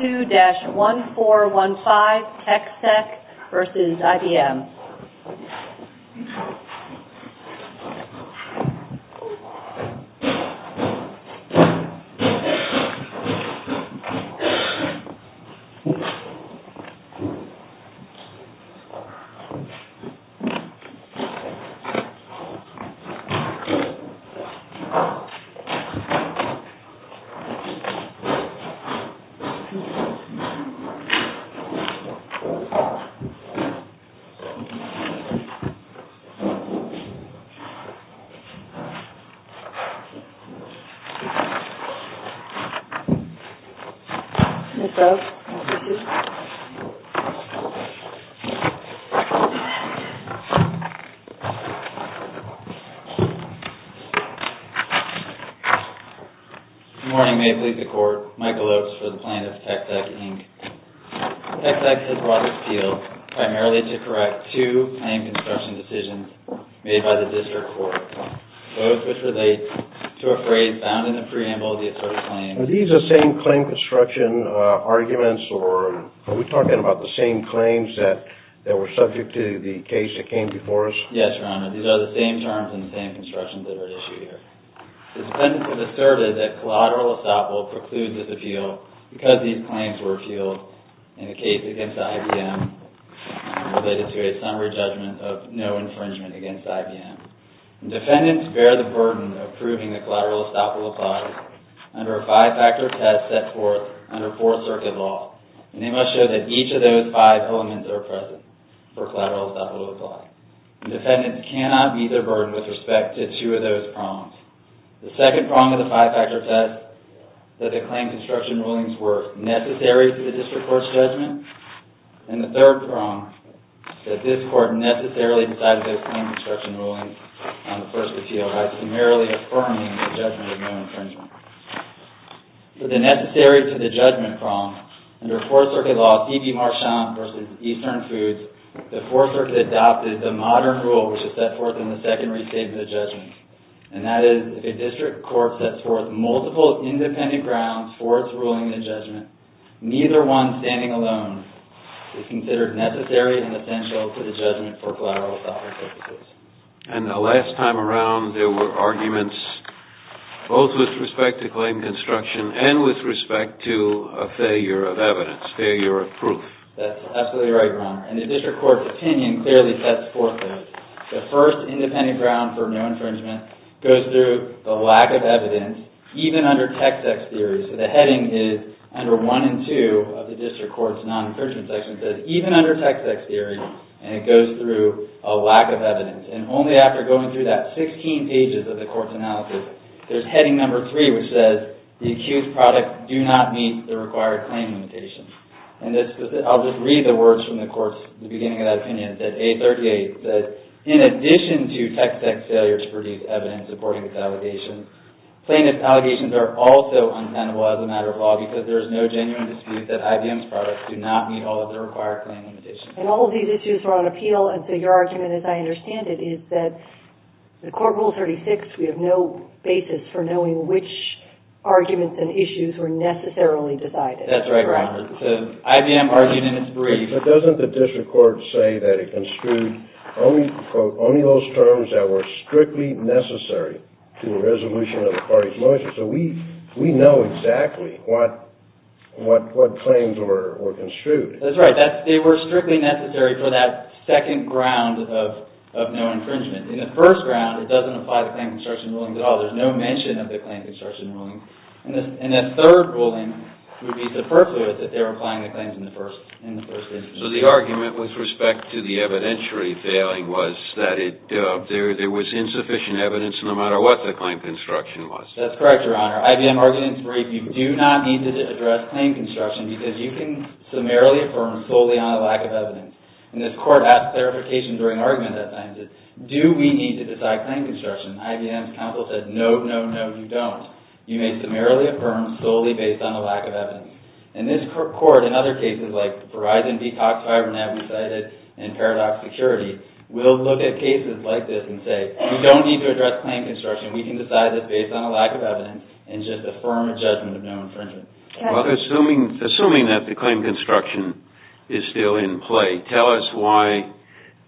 2-1415 TECSEC v. IBM TECSEC INC v. IBM TECSEC has brought this appeal primarily to correct two claim construction decisions made by the District Court, both which relate to a phrase found in the preamble of the asserted claim. Are these the same claim construction arguments, or are we talking about the same claims that were subject to the case that came before us? Yes, Your Honor. These are the same terms and the same constructions that are at issue here. The defendants have asserted that collateral estoppel precludes this appeal because these claims were appealed in the case against IBM related to a summary judgment of no infringement against IBM. The defendants bear the burden of proving that collateral estoppel applies under a five-factor test set forth under Fourth Circuit law, and they must show that each of those five elements are present for collateral estoppel to apply. The defendants cannot meet their burden with respect to two of those prongs. The second prong of the five-factor test, that the claim construction rulings were necessary to the District Court's judgment, and the third prong, that this Court necessarily decided those claim construction rulings on the first appeal by primarily affirming the judgment of no infringement. For the necessary to the judgment prong, under Fourth Circuit law, CB Marchand v. Eastern Foods, the Fourth Circuit adopted the modern rule which is set forth in the Second Restatement of Judgment, and that is if a District Court sets forth multiple independent grounds for its ruling in a judgment, neither one standing alone is considered necessary and essential to the judgment for collateral estoppel. And the last time around, there were arguments both with respect to claim construction and with respect to a failure of evidence, failure of proof. That's absolutely right, Ron, and the District Court's opinion clearly sets forth those. The first independent ground for no infringement goes through the lack of evidence, even under Tex-Ex theory. So the heading is under 1 and 2 of the District Court's non-infringement section, that even under Tex-Ex theory, and it goes through a lack of evidence. And only after going through that 16 pages of the Court's analysis, there's heading number 3, which says the accused product do not meet the required claim limitation. And I'll just read the words from the Court's beginning of that opinion, that A38 says, in addition to Tex-Ex failures to produce evidence according to its allegations, plaintiff's allegations are also untenable as a matter of law because there is no genuine dispute that IBM's products do not meet all of the required claim limitations. And all of these issues are on appeal, and so your argument, as I understand it, is that the Court Rule 36, we have no basis for knowing which arguments and issues were necessarily decided. Yes, that's the right ground. So IBM argued in its brief. But doesn't the District Court say that it construed only, quote, only those terms that were strictly necessary to a resolution of the parties' limitations? So we know exactly what claims were construed. That's right. They were strictly necessary for that second ground of no infringement. In the first ground, it doesn't apply to claim construction rulings at all. There's no mention of the claim construction ruling. And that third ruling would be superfluous if they were applying the claims in the first instance. So the argument with respect to the evidentiary failing was that there was insufficient evidence no matter what the claim construction was. That's correct, Your Honor. IBM argued in its brief, you do not need to address claim construction because you can summarily affirm solely on a lack of evidence. And this Court asked clarification during argument at times. Do we need to decide claim construction? IBM's counsel said, no, no, no, you don't. You may summarily affirm solely based on a lack of evidence. And this Court, in other cases like Verizon, Detox, Hibernate, Recited, and Paradox Security, will look at cases like this and say, you don't need to address claim construction. We can decide this based on a lack of evidence and just affirm a judgment of no infringement. Well, assuming that the claim construction is still in play, tell us why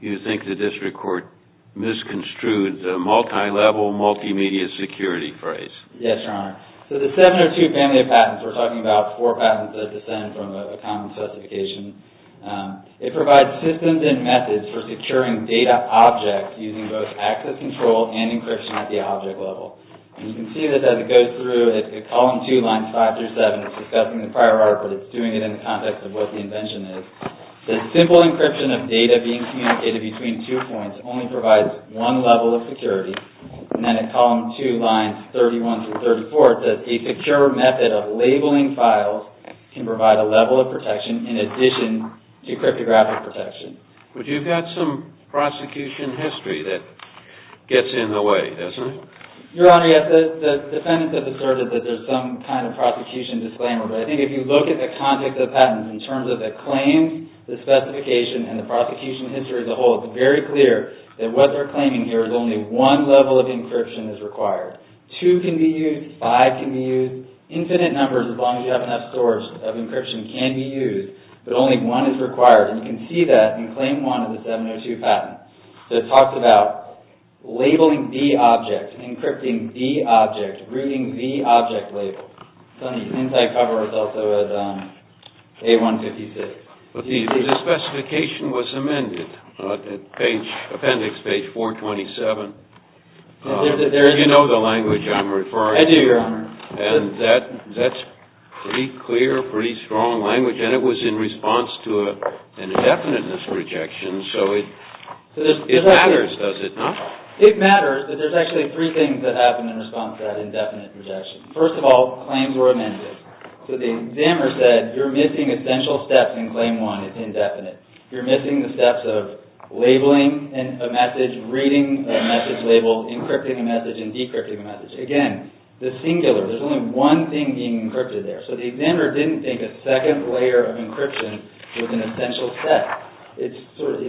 you think the District Court misconstrued the multi-level, multimedia security phrase. Yes, Your Honor. So the seven or two family of patents, we're talking about four patents that descend from a common specification. It provides systems and methods for securing data objects using both access control and encryption at the object level. And you can see this as it goes through at column two, lines five through seven. It's discussing the prior article, but it's doing it in the context of what the invention is. The simple encryption of data being communicated between two points only provides one level of security. And then at column two, lines 31 through 34, it says the secure method of labeling files can provide a level of protection in addition to cryptographic protection. But you've got some prosecution history that gets in the way, doesn't it? Your Honor, yes. The defendants have asserted that there's some kind of prosecution disclaimer. But I think if you look at the context of patents in terms of the claims, the specification, and the prosecution history as a whole, it's very clear that what they're claiming here is only one level of encryption is required. Two can be used. Five can be used. Infinite numbers, as long as you have enough source of encryption, can be used. But only one is required. And you can see that in claim one of the 702 patent. So it talks about labeling the object, encrypting the object, reading the object label. It's on the inside cover. It's also at A156. But the specification was amended at appendix page 427. Do you know the language I'm referring to? I do, Your Honor. And that's pretty clear, pretty strong language. And it was in response to an indefiniteness rejection. So it matters, does it not? It matters, but there's actually three things that happen in response to that indefinite rejection. First of all, claims were amended. So the examiner said, you're missing essential steps in claim one. It's indefinite. You're missing the steps of labeling a message, reading a message label, encrypting a message, and decrypting a message. Again, the singular, there's only one thing being encrypted there. So the examiner didn't think a second layer of encryption was an essential step. It's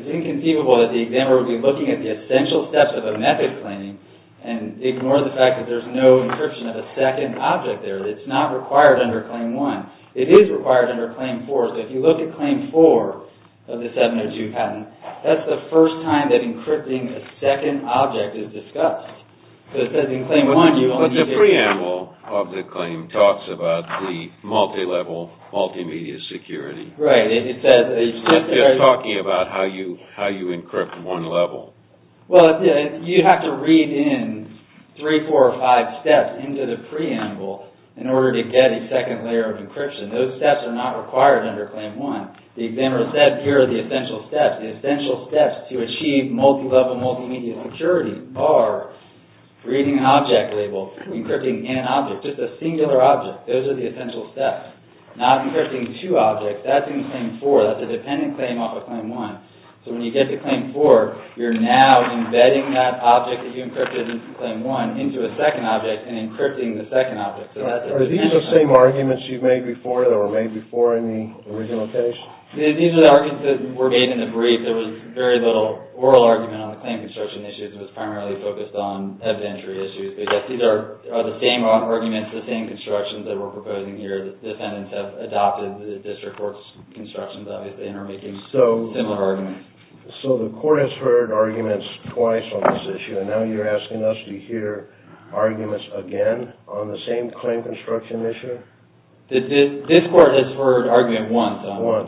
inconceivable that the examiner would be looking at the essential steps of a method claim and ignore the fact that there's no encryption of a second object there. It's not required under claim one. It is required under claim four. So if you look at claim four of the 702 patent, that's the first time that encrypting a second object is discussed. But the preamble of the claim talks about the multilevel multimedia security. Right. It's talking about how you encrypt one level. Well, you have to read in three, four, or five steps into the preamble in order to get a second layer of encryption. Those steps are not required under claim one. The examiner said, here are the essential steps. The essential steps to achieve multilevel multimedia security are reading an object label, encrypting an object, just a singular object. Those are the essential steps. Not encrypting two objects, that's in claim four. That's a dependent claim off of claim one. So when you get to claim four, you're now embedding that object that you encrypted in claim one into a second object and encrypting the second object. Are these the same arguments you've made before that were made before in the original case? These are the arguments that were made in the brief. There was very little oral argument on the claim construction issues. It was primarily focused on evidentiary issues. But, yes, these are the same arguments, the same constructions that we're proposing here. The defendants have adopted the district court's constructions, obviously, and are making similar arguments. So the court has heard arguments twice on this issue, and now you're asking us to hear arguments again on the same claim construction issue? This court has heard argument once,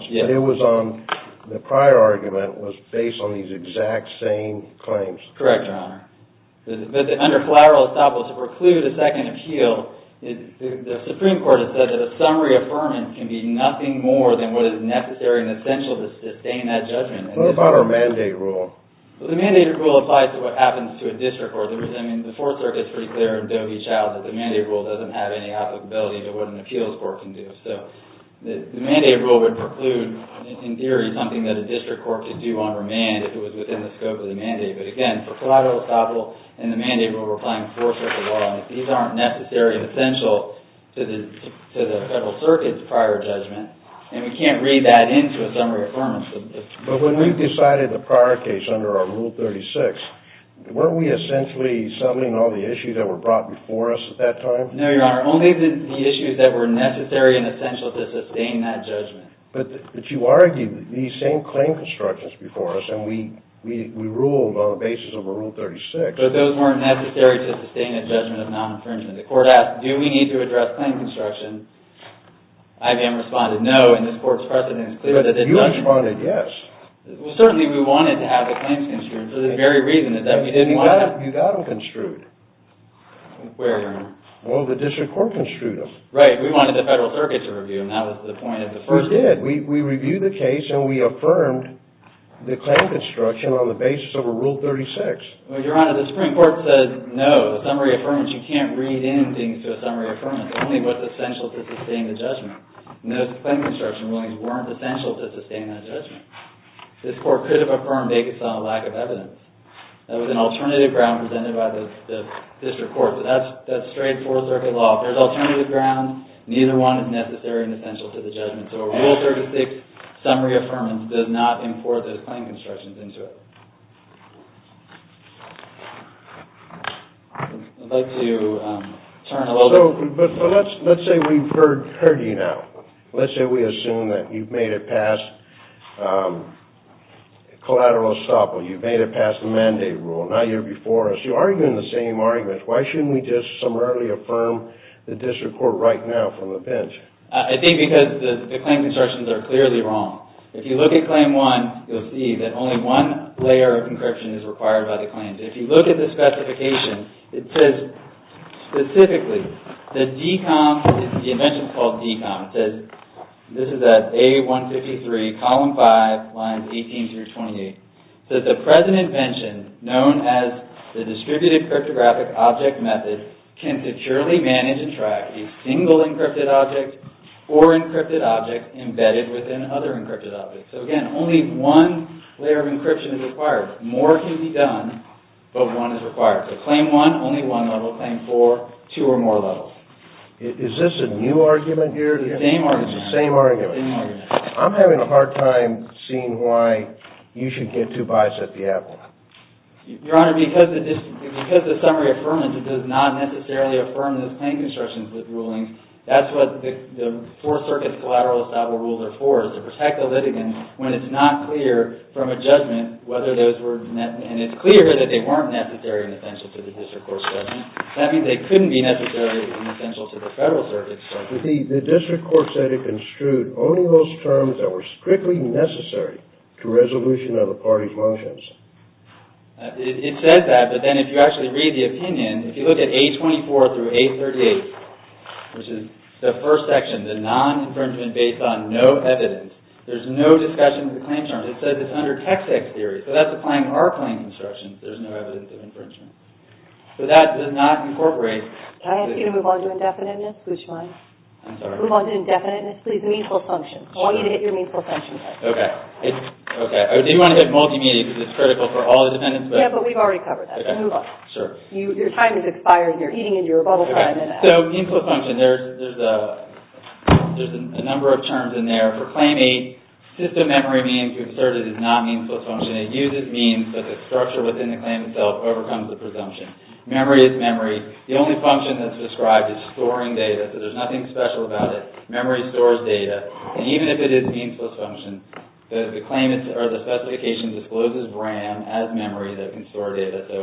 Your Honor. Once. The prior argument was based on these exact same claims. Correct, Your Honor. Under collateral estoppel, to preclude a second appeal, the Supreme Court has said that a summary affirmance can be nothing more than what is necessary and essential to sustain that judgment. What about our mandate rule? The mandate rule applies to what happens to a district court. The Fourth Circuit is pretty clear in Doe v. Child that the mandate rule doesn't have any applicability to what an appeals court can do. The mandate rule would preclude, in theory, something that a district court could do on remand if it was within the scope of the mandate. But, again, for collateral estoppel and the mandate rule we're applying the Fourth Circuit law, these aren't necessary and essential to the Federal Circuit's prior judgment and we can't read that into a summary affirmance. But when we decided the prior case under our Rule 36, weren't we essentially summing all the issues that were brought before us at that time? No, Your Honor. Only the issues that were necessary and essential to sustain that judgment. But you argued these same claim constructions before us and we ruled on the basis of a Rule 36. But those weren't necessary to sustain a judgment of non-infringement. The court asked, do we need to address claim construction? IBM responded, no, and this court's precedent is clear that it doesn't. But you responded, yes. Well, certainly we wanted to have the claims construed for the very reason that we didn't want to have... You got them construed. Where, Your Honor? Well, the district court construed them. Right, we wanted the Federal Circuit to review them. That was the point at the first instance. We did. We reviewed the case and we affirmed the claim construction on the basis of a Rule 36. Well, Your Honor, the Supreme Court said, no, a summary affirmance, you can't read in things to a summary affirmance. Only what's essential to sustain the judgment. And those claim construction rulings weren't essential to sustain that judgment. This court could have affirmed it based on a lack of evidence. That was an alternative ground presented by the district court. But that's straight Fourth Circuit law. If there's alternative ground, neither one is necessary and essential to the judgment. So a Rule 36 summary affirmance does not import those claim constructions into it. I'd like to turn a little bit... But let's say we've heard you now. Let's say we assume that you've made it past collateral estoppel. You've made it past the mandate rule. Now you're before us. You're arguing the same arguments. Why shouldn't we just summarily affirm the district court right now from the bench? I think because the claim constructions are clearly wrong. If you look at Claim 1, you'll see that only one layer of encryption is required by the claims. If you look at the specification, it says specifically that DECOM... The invention is called DECOM. It says... This is at A153, column 5, lines 18 through 28. It says, The present invention, known as the distributed cryptographic object method, can securely manage and track a single encrypted object or encrypted object embedded within other encrypted objects. So again, only one layer of encryption is required. More can be done, but one is required. So Claim 1, only one level. Claim 4, two or more levels. Is this a new argument here? It's the same argument. It's the same argument. I'm having a hard time seeing why you should get too biased at the Apple. Your Honor, because the summary affirmance does not necessarily affirm those claim constructions with rulings, that's what the Fourth Circuit's collateral estoppel rules are for, is to protect the litigants when it's not clear from a judgment whether those were necessary. And it's clear that they weren't necessary and essential to the District Court's judgment. That means they couldn't be necessary and essential to the Federal Circuit's judgment. The District Court said it construed only those terms that were strictly necessary to resolution of a party's motions. It says that, but then if you actually read the opinion, if you look at A24 through A38, which is the first section, the non-infringement based on no evidence, there's no discussion of the claim terms. It says it's under Tex-Ex theory, so that's applying to our claim constructions. There's no evidence of infringement. So that does not incorporate... Can I ask you to move on to indefiniteness? Which one? I'm sorry? Move on to indefiniteness, please, and meanful function. I want you to hit your meanful function button. Okay. Okay. I do want to hit multimedia because it's critical for all the defendants, but... Yeah, but we've already covered that. Okay. Move on. Sure. Your time has expired and you're eating into your bubble time in that. Okay. So, meanful function, there's a number of terms in there for Claim 8. System memory being concerted is not meanful function. It uses means, but the structure within the claim itself overcomes the presumption. Memory is memory. The only function that's described is storing data, so there's nothing special about it. Memory stores data. And even if it is meanful function, the claimant or the specification discloses RAM as memory that can store data. So,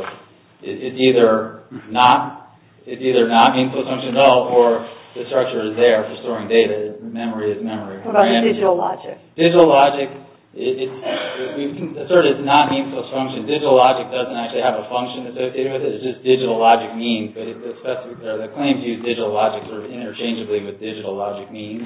it's either not... or the structure is there for storing data. Memory is memory. RAM is memory. Okay. Okay. Okay. Okay. Okay. Okay. Okay. Okay. So, what's... What's meanful function? What's digital logic? Digital logic... We've asserted it's not meanful function. Digital logic doesn't actually have a function, it's just digital logic means, but it's the claim to use digital logic sort of interchangeably with digital logic means.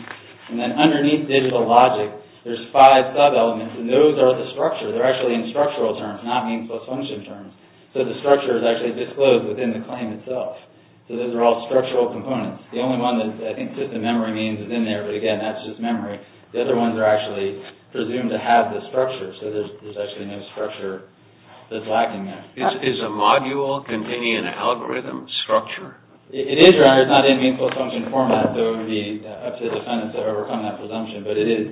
And then underneath digital logic, there's five sub-elements and those are the structure. They're actually in structural terms, not meanful function terms. So, the structure is actually disclosed within the claim itself. So, those are all structural components. The only one that I think system memory means is in there, but again, that's just memory. The other ones are actually presumed to have the structure. So, there's actually no structure that's lacking there. Is a module containing an algorithm structure? It is, your honor. It's not in meanful function format, though it would be up to the defendants to overcome that presumption. But it is...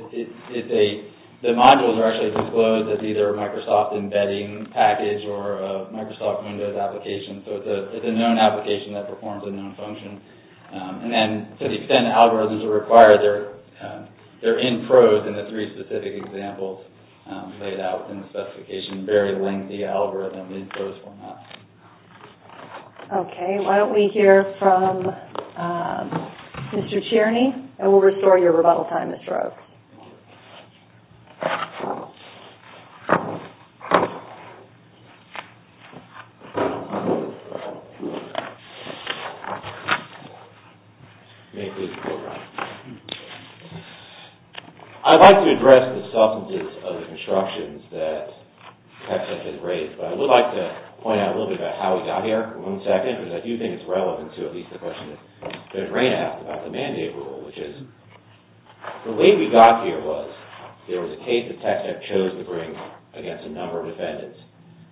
It's a... The modules are actually disclosed as either a Microsoft embedding package And then, to defend the algorithms that require their... their structure, it's a known application that performs a known function. And then, to defend the algorithms that require their structure, they're in prose in the three specific examples laid out in the specification. Very lengthy algorithm in prose format. Okay. Why don't we hear from Mr. Cherney, and we'll restore your rebuttal time, Mr. Oakes. May please go around. I'd like to address the substances of the constructions that TechSec has raised, but I would like to point out a little bit about how we got here for one second, because I do think it's relevant to at least the question that Judge Rayna asked about the mandate rule, which is the way we got here was there was a case that TechSec chose to bring against a number of defendants.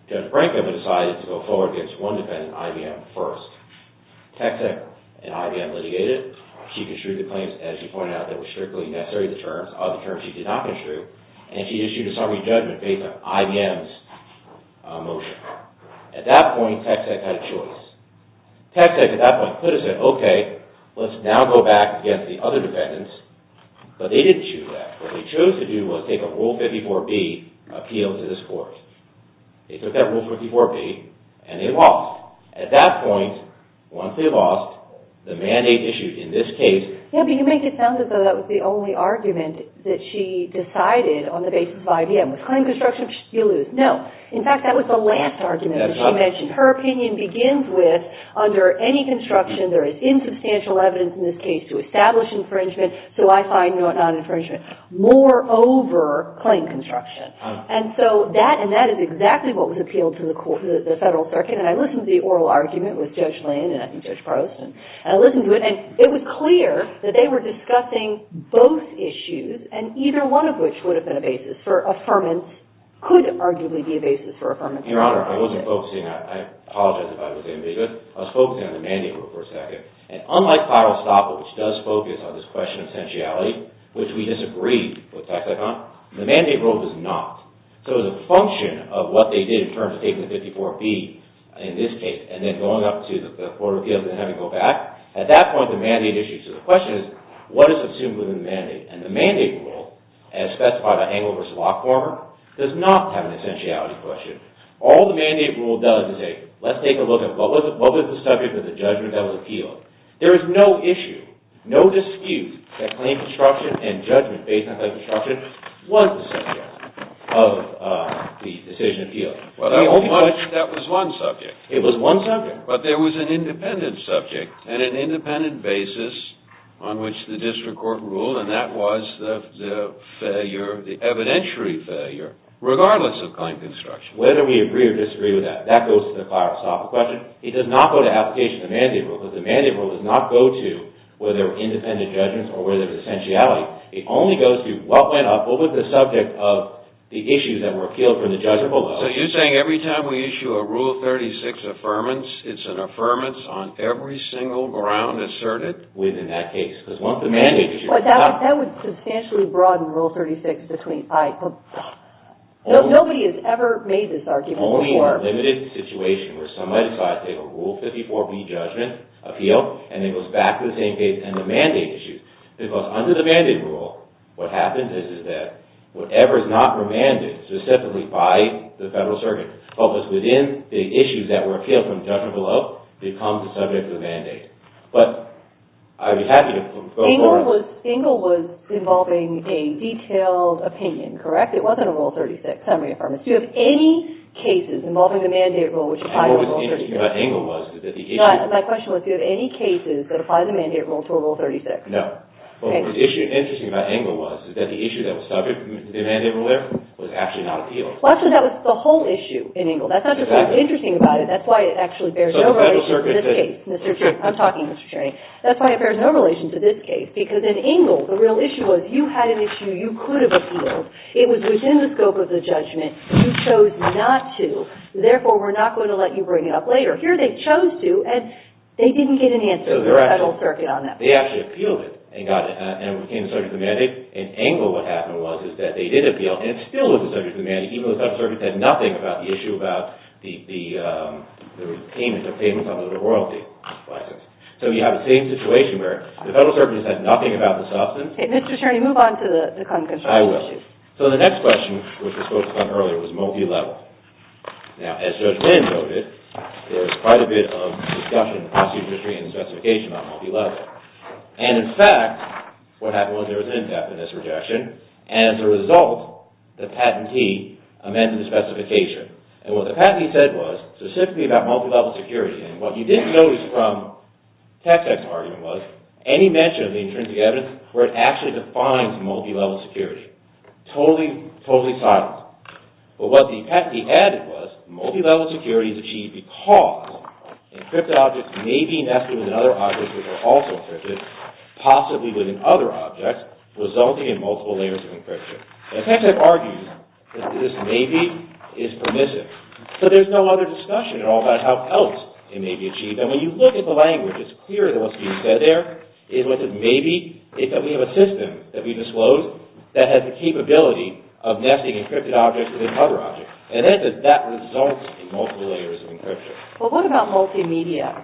Judge Branko decided to go forward against one defendant, IBM, first. TechSec and IBM litigated. She construed the claims as she pointed out that were strictly necessary to the terms of the terms she did not construe, and she issued a summary judgment based on IBM's motion. At that point, TechSec had a choice. TechSec, at that point, could have said, okay, let's now go back against the other defendants, but they didn't choose that. What they chose to do was take a Rule 54B appeal to this court. They took that Rule 54B, once they lost, the mandate issued in this case, Yeah, but you make it sound as though that's not true. It's not true. It's not true. It's not true. That was the only argument that she decided on the basis of IBM. Was claim construction, you lose. No. In fact, that was the last argument that she mentioned. Her opinion begins with, under any construction, there is insubstantial evidence in this case to establish infringement, so I find no non-infringement. Moreover, claim construction. And so that, and that is exactly what was appealed to the federal circuit, and I listened to the oral argument with Judge Lynn and I think Judge Proust, and I listened to it, and it was clear that they were discussing both issues, and either one of which would have been a basis for affirmance, could arguably be a basis for affirmance. Your Honor, I wasn't focusing, I apologize if I was ambiguous, I was focusing on the mandate rule for a second, and unlike final estoppel, which does focus on this question of sensuality, which we disagree with tax icon, the mandate rule does not. So the function of what they did in terms of taking the 54B in this case, and then going up to the Florida appeals and having to go back, at that point, the mandate issue, so the question is what is assumed within the mandate, and the mandate rule, as specified by Engel v. Lockformer, does not have an essentiality question. All the mandate rule does is say, let's take a look at what was the subject of the judgment that was appealed. There is no issue, no dispute, that claim construction and judgment based on that construction was the subject of the decision appealed. Well, that was one subject. It was one subject. But there was an independent subject and an independent basis on which the district court ruled, and that was the failure, the evidentiary failure, regardless of claim construction. Whether we agree or disagree with that, that goes to the question. It does not go to application of the mandate rule, because the mandate rule does not go to whether independent judgments or whether there's an essentiality. It only goes to what went up, what was the subject of the issues that were appealed from the judgment below. So you're saying every time we issue a Rule 36 Affirmance, it's an Affirmance on every single ground asserted? Within that case, because once the mandate issue... That would substantially broaden Rule 36 between... Nobody has ever made this argument before. Only in a limited situation where somebody decides to take a Rule 54b judgment appeal and it goes back to the same case and the mandate issue. Because under the mandate rule, what happens is that whatever is not remanded specifically by the federal circuit but was within the issues that were appealed from judgment below becomes the subject of the mandate. But I'd be happy to go forward... Engel was involving a detailed opinion, correct? It wasn't a Rule 36 Summary Affirmance. Do you have any cases involving the mandate rule which apply to Rule 36? And what was interesting about Engel was that the issue... My question was, do you have any cases that apply to the mandate rule to a Rule 36? No. What was interesting about Engel was that the issue that was subject to the mandate rule was actually not appealed. Well, I said that was the whole issue in Engel. That's not just what's interesting about it. That's why it actually bears no relation to this case. I'm talking, Mr. Chairman. That's why it bears no relation to this case. Because in Engel, the real issue was you had an issue you could have appealed. It was within the scope of the judgment. You chose not to. Therefore, we're not going to let you bring it up later. Here, they chose to and they didn't get an answer from the Federal Circuit on that. They actually appealed it and it became subject to the mandate. In Engel, what happened was that they did appeal and it still was subject to the mandate even though the Federal Circuit had nothing about the issue about the payment of royalty. So, you have the same situation where the Federal Circuit has had nothing about the payment of In fact, there was quite a bit of discussion in the specification about multi-level. In fact, what happened was there was an in-depth in this rejection and as a result, the patentee amended the specification. What the patentee said was specifically about multi-level security. What he didn't notice from Tex-Ex's evidence where it actually defines multi-level security, totally silent. But what the patentee added was multi-level security is achieved because encrypted objects may be nested with other objects which are also encrypted, possibly within other objects, resulting in multiple layers of encryption. Now, Tex-Ex argues that this maybe is permissive. So there's no other discussion at all about how else it may be achieved. And when you look at the language, it's clear that what's being said there is that maybe we have a system that we disclosed that has the capability of nesting encrypted objects within other objects. And that results in multiple layers of encryption. Well, what about multimedia?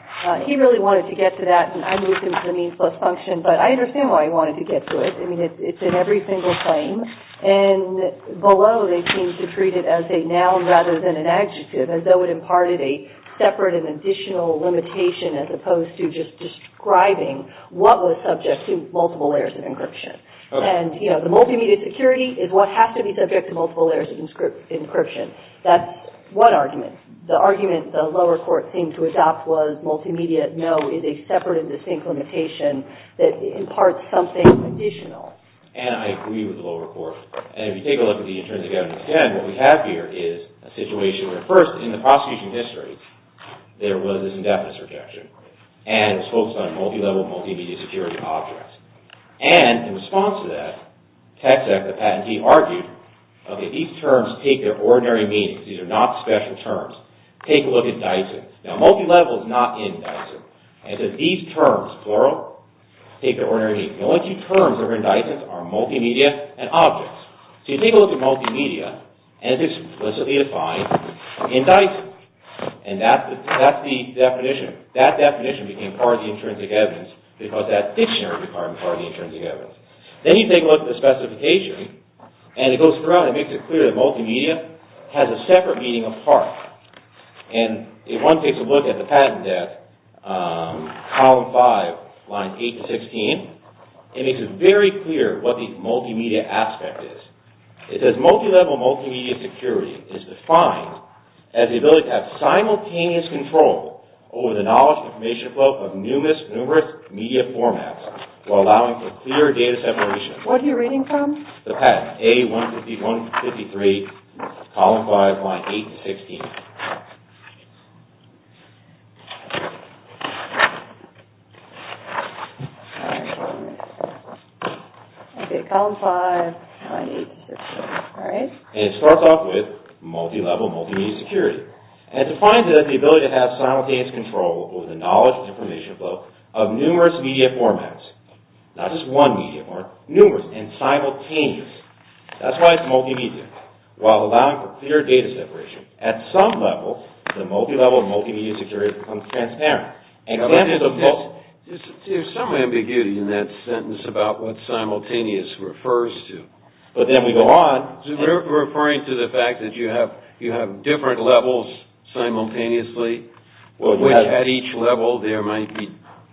He really wanted to get to that and I moved him to the means plus function, but I understand why he wanted to get to it. I mean, it's in every single claim and below they seem to treat it as a noun rather than an adjective as though it imparted a separate and additional limitation as opposed to just describing what was subject to what the lower court seemed to adopt was multimedia, no, is a separate and distinct limitation that imparts something additional. And I agree with the lower court. And if you take a look at the interns again, again, what we have here is a situation where first in the prosecution history, there was this indefinite subjection and it was focused on multilevel, multimedia, security, objects. And in response to that, Texact, the patentee, argued, okay, these terms take their ordinary meaning. These are not special terms. Take a look at Dyson. Now, multilevel is not in Dyson. And so these terms, plural, take their ordinary meaning. The only two terms that are in Dyson are multimedia and objects. So you take a look at multimedia and it's explicitly defined in Dyson. And that's the definition. That definition became part of the intrinsic evidence because that dictionary became part of the intrinsic evidence. Then you take a look at the specification and it is very clear what the multimedia aspect is. It says multilevel multimedia security is defined as the ability to have simultaneous control over the knowledge and information flow of numerous media formats while allowing for clear data separation. What are you reading from? The patent, A-153, column 5, line 8 to 16. And it starts off with multilevel multimedia security. And it defines it as the ability to have simultaneous control over the knowledge and information flow of numerous media formats. Not just one media format, numerous and simultaneous. That's why it's multimedia. While allowing for clear data separation. At some level, the multilevel multimedia security becomes transparent. There's some ambiguity in that sentence about what simultaneous refers to. But then we go on. We're referring to the fact that you have different levels simultaneously. At each level there might be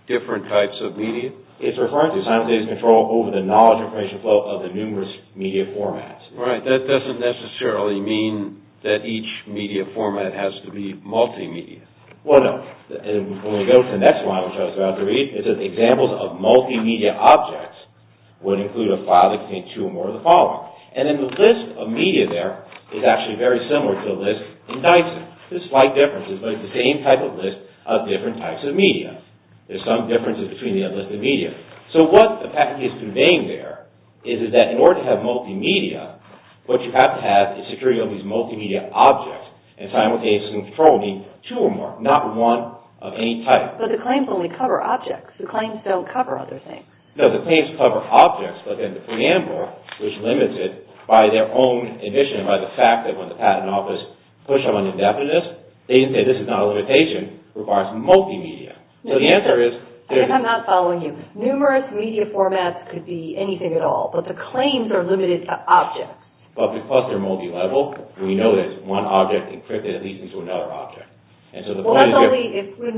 different types of media. It's referring to simultaneous control over the knowledge and information flow of each media format. It has to be multimedia. Well, no. When we go to the next one, which I was about to read, it says examples of multimedia objects would include a file that contains two or more of the following. And then the list of media there is actually very similar to the list in Dyson. There's slight differences, but it's the same type of list of different types of media. There's some differences between the other types of media. So what the patent is conveying there is that in order to have multimedia, what you have to have is security of these multimedia objects and simultaneously controlling two or more, not one of any type. But the claims only cover objects. The claims don't cover other things. No, the claims cover objects, but then the preamble, which limits it by their own emission by the fact that when the patent office push them on indefiniteness, they say this is not a limitation, it requires multimedia. So the answer is... I'm not following you. Numerous media formats could be anything at all, but the claims are limited to objects. But because they're multilevel, we know that one object is encrypted into another object. That's only if we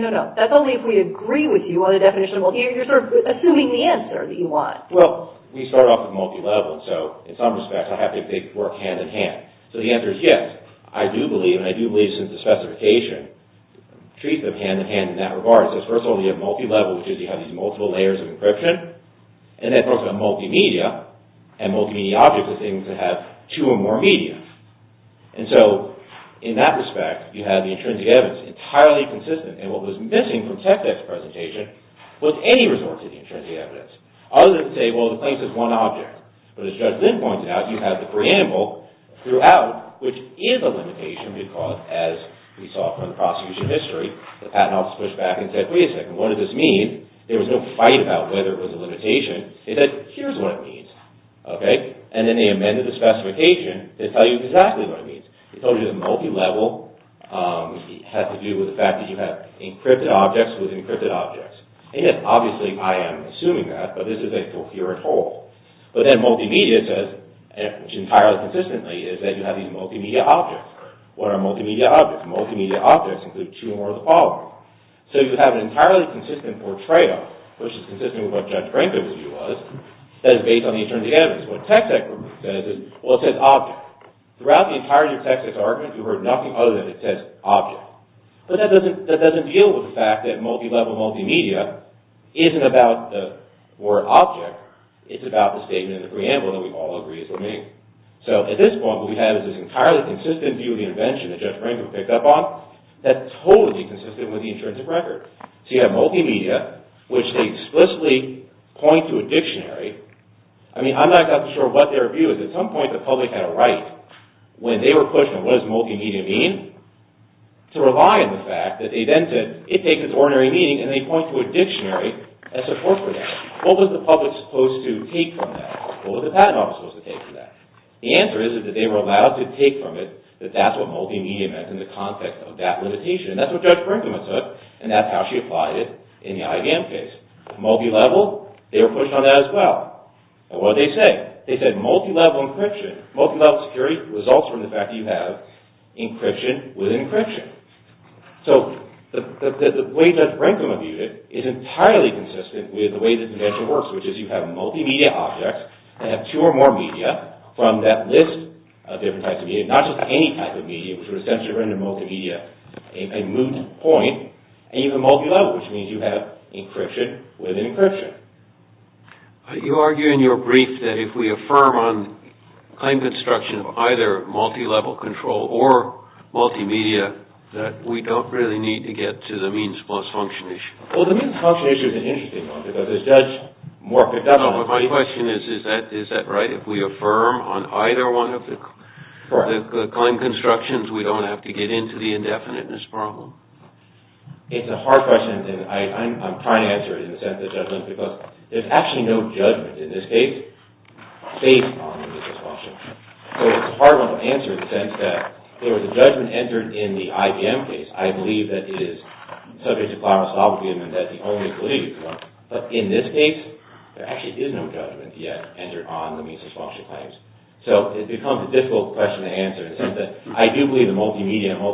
agree with you on the definition. You're assuming the answer that you want. Well, we start off with multilevel, so in some respects, I have to work hand in hand. So the answer is yes. I do believe, and I do believe since the specification, treat them as multiple layers of encryption, and then multimedia, and multimedia objects are things that have two or more media. And so, in that respect, you have the intrinsic evidence entirely consistent, and what was missing from Techdeck's presentation was any resource of the intrinsic evidence, other than to say, well, the claims is one object. But as Judge Lynn pointed out, you have the preamble throughout, which is a limitation, because as we saw from the prosecution history, the patent office pushed back and said, wait a second, what does this mean? There was no fight about whether it was a limitation. They said, here's what it means, okay? And then they amended the preamble and then multimedia says, which entirely consistently is that you have these multimedia objects. What are multimedia objects? Multimedia objects include two or more of the following. So you have an entirely consistent portrayal, which is consistent with what Judge Franklin's view was, that is based on the intrinsic evidence. And so what the Tex-Ex group says is, well, it says object. Throughout the entire Tex-Ex argument, you heard nothing other than it says object. But that doesn't deal with the fact that multilevel multimedia isn't about the word object, it's about the statement and the preamble that we all agree multimedia is supposed to mean. So at this point, what we have is this entirely consistent view of the invention that Judge Franklin picked up on that's totally consistent with the intrinsic record. So you have multimedia which they explicitly point to a dictionary. I mean, I'm not exactly sure what their view is. At some point, they were allowed to take from it that that's what multimedia meant in the context of that limitation. That's what Judge Brinkman took and that's how she applied it in the IBM case. Multilevel, they were pushing on that as well. And what did they say? They said multilevel encryption. Multilevel security results from the fact that you have encryption within encryption. So the way Judge Brinkman viewed it is entirely consistent with the way the invention works, which is you have multimedia objects that have two or more media from that list of different types of media, not just one type So there's no claim construction of either multilevel control or multimedia that we don't really need to get to the means-plus function issue. Well, the means-plus function issue is an interesting one. My question is, is that right if we affirm on either one of the claim constructions we don't have to get into the indefiniteness problem? It's a hard question and I'm trying to answer it in the sense of judgment because there's actually no judgment in this case based on the means-plus function. So it's a hard one to answer in the sense that there was a judgment entered in the IBM case. I believe that it is subject to clausology and that the only belief. But in this case there actually is no judgment yet entered on the means-plus function claims. So it becomes a difficult question to answer in the sense that there is no judgment in the IBM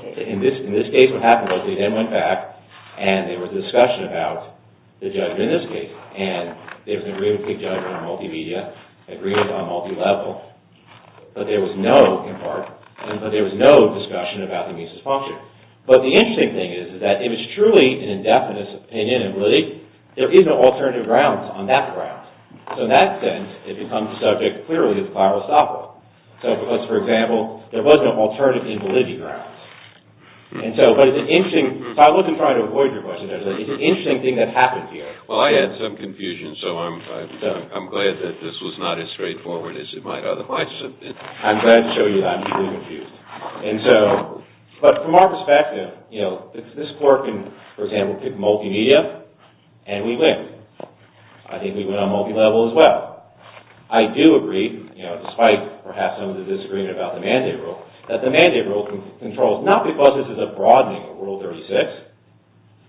case. In this case what happened was they then went back and there was a discussion about the judgment in this case and there was an agreement to take judgment on multimedia, agreement on multilevel, but there was no discussion about the means-plus function. But the interesting thing is that if it's truly an indefinite opinion in validity, there is no alternative grounds on that ground. So in that sense it becomes subject clearly to clausology. So because for example there was no alternative in validity grounds. And so but from our perspective you know this court can for example pick multimedia and we win. I think we win on multilevel as well. I do agree you know despite perhaps some of the disagreement about the mandate rule that the mandate rule controls not because this is a broadening of Rule 36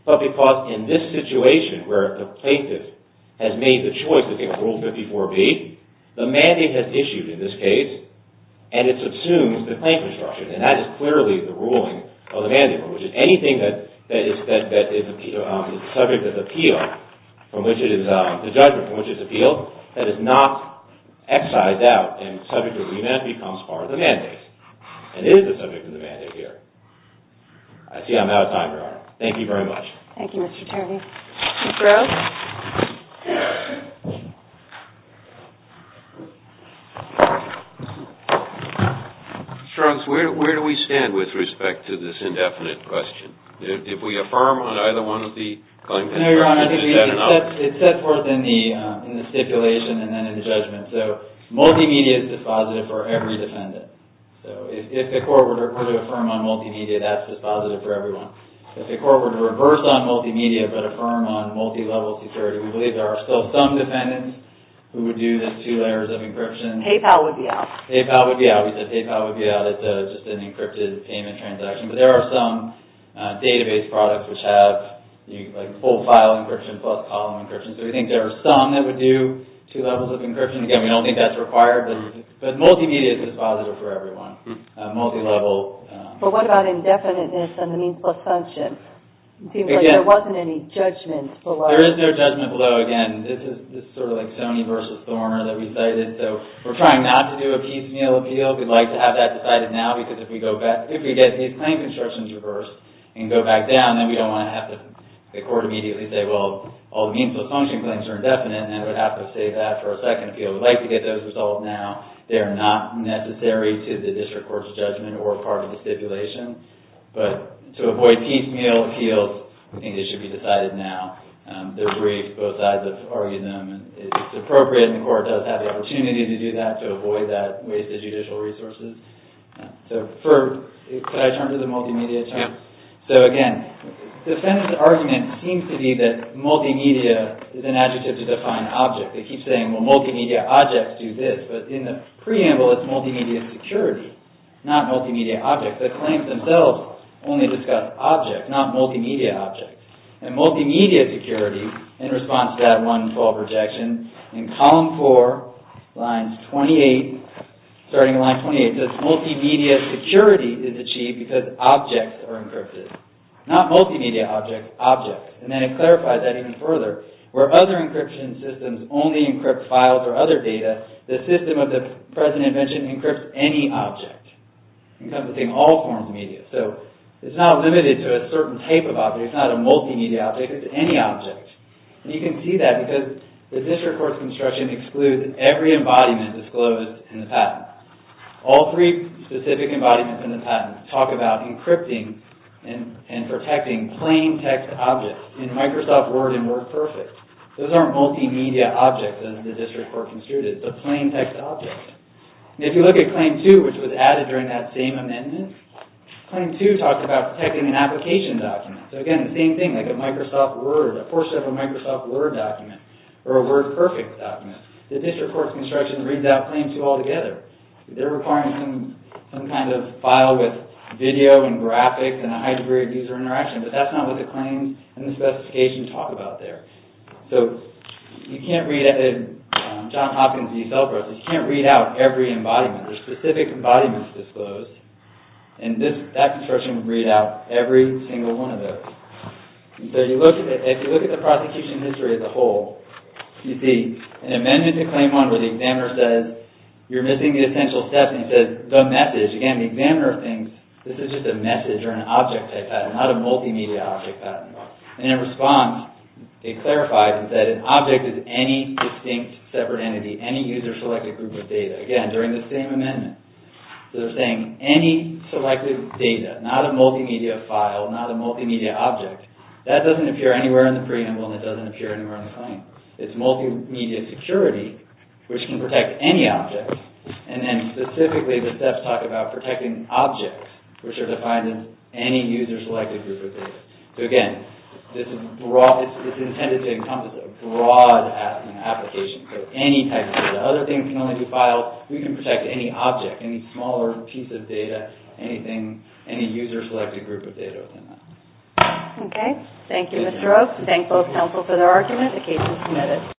but because in this situation where the plaintiff has made the choice to take Rule 54B the mandate has issued in this case and it subsumes the claim construction. And that is clearly the ruling of the mandate rule which is anything that is subject of appeal from which it is the judgment from which it is appealed that is not excised out and subject of remand becomes part of the mandate. And it is the subject of the mandate here. I see I'm out of time Your Honor. Thank you very Thank you Mr. Charney. Mr. Rowe. Mr. Jones where do we stand with respect to this indefinite question? Did we affirm on either one of the claims? No Your Honor. It is set forth in the stipulation and then in the judgment. So multimedia is dispositive for every defendant. So if the court were to affirm on multimedia that's dispositive for everyone. If the court were to reverse on multimedia but affirm on multi-level security we believe there are still some defendants who would do the two layers of encryption. PayPal would be out. PayPal would be out. We said PayPal would be out. It's just an encrypted payment transaction. But there are some database products which have like full file encryption plus column encryption. So we think there are some that would do two levels of encryption. Again we don't think that's required. But multimedia is dispositive for everyone. Multi-level. But what about indefiniteness and the means plus function? It seems like there wasn't any judgment below. There is no judgment below. So again, this is sort of like Sony versus Thorner that we cited. So we're trying not to do a piecemeal appeal. We'd like to have that decided now because if we get these claim constructions reversed and go back down then we don't want to have the court immediately say well all the means plus function claims are indefinite and we'd have to save that for a second appeal. We'd like to get those things resolved now. They are not necessary to the district court's judgment or part of the stipulation. But to avoid piecemeal appeals I think it should be decided now. Both sides have argued them. It's appropriate and the court does have the opportunity to do that to avoid that waste of judicial resources. Could I turn to the multimedia terms? So again the defendant's argument seems to be that multimedia is an adjective to define object. They keep saying well multimedia objects do this but in the preamble it's multimedia security not multimedia objects. The claims themselves only discuss objects not multimedia objects. And multimedia security in response to that 112 rejection in column 4 starting at line 28 says multimedia security is achieved because objects are encrypted. Not multimedia objects, objects. And then it clarifies that even further. Where other encryption systems only encrypt files or other data the system of the present invention encrypts any object encompassing all forms of media. So it's not limited to a certain type of object it's not a multimedia object it's any object. And you can see that because the district court's construction excludes every embodiment disclosed in the patent. All three specific embodiments in the patent talk about encrypting and protecting plain text objects in Microsoft Word and Word Perfect. Those aren't multimedia objects as the district court construed it but plain text objects. And if you look at claim 2 which was added during that same amendment claim 2 talks about protecting an application document. So again the same thing like a Microsoft Word document or a Word Perfect document. The district court's construction reads out claim 2 altogether. They're requiring some kind of file with video and graphics and a high degree of user interaction. But that's not what the claims and specifications talk about there. So you can't read out every embodiment. There are specific embodiments disclosed. And that construction would read out every single one of those. So if you look at the prosecution history as a whole you see an amendment to claim 1 where the examiner says you're missing the essential steps and says the message. Again the examiner thinks this is just a message or an object type and it responds, it clarifies that an object is any distinct separate entity, any user selected group of data. Again, during the same amendment they're saying any selected data, not a multimedia file, not a multimedia object, that doesn't appear anywhere in the preamble and doesn't appear anywhere in the claim. It's multimedia security which can protect any object. And then specifically the claim is intended to encompass a broad application so any type of data. Other things can only be files. We can protect any object, any smaller piece of data, any user selected group of data. Okay, thank you Mr. Oaks. Thank both counsel for their argument. The case is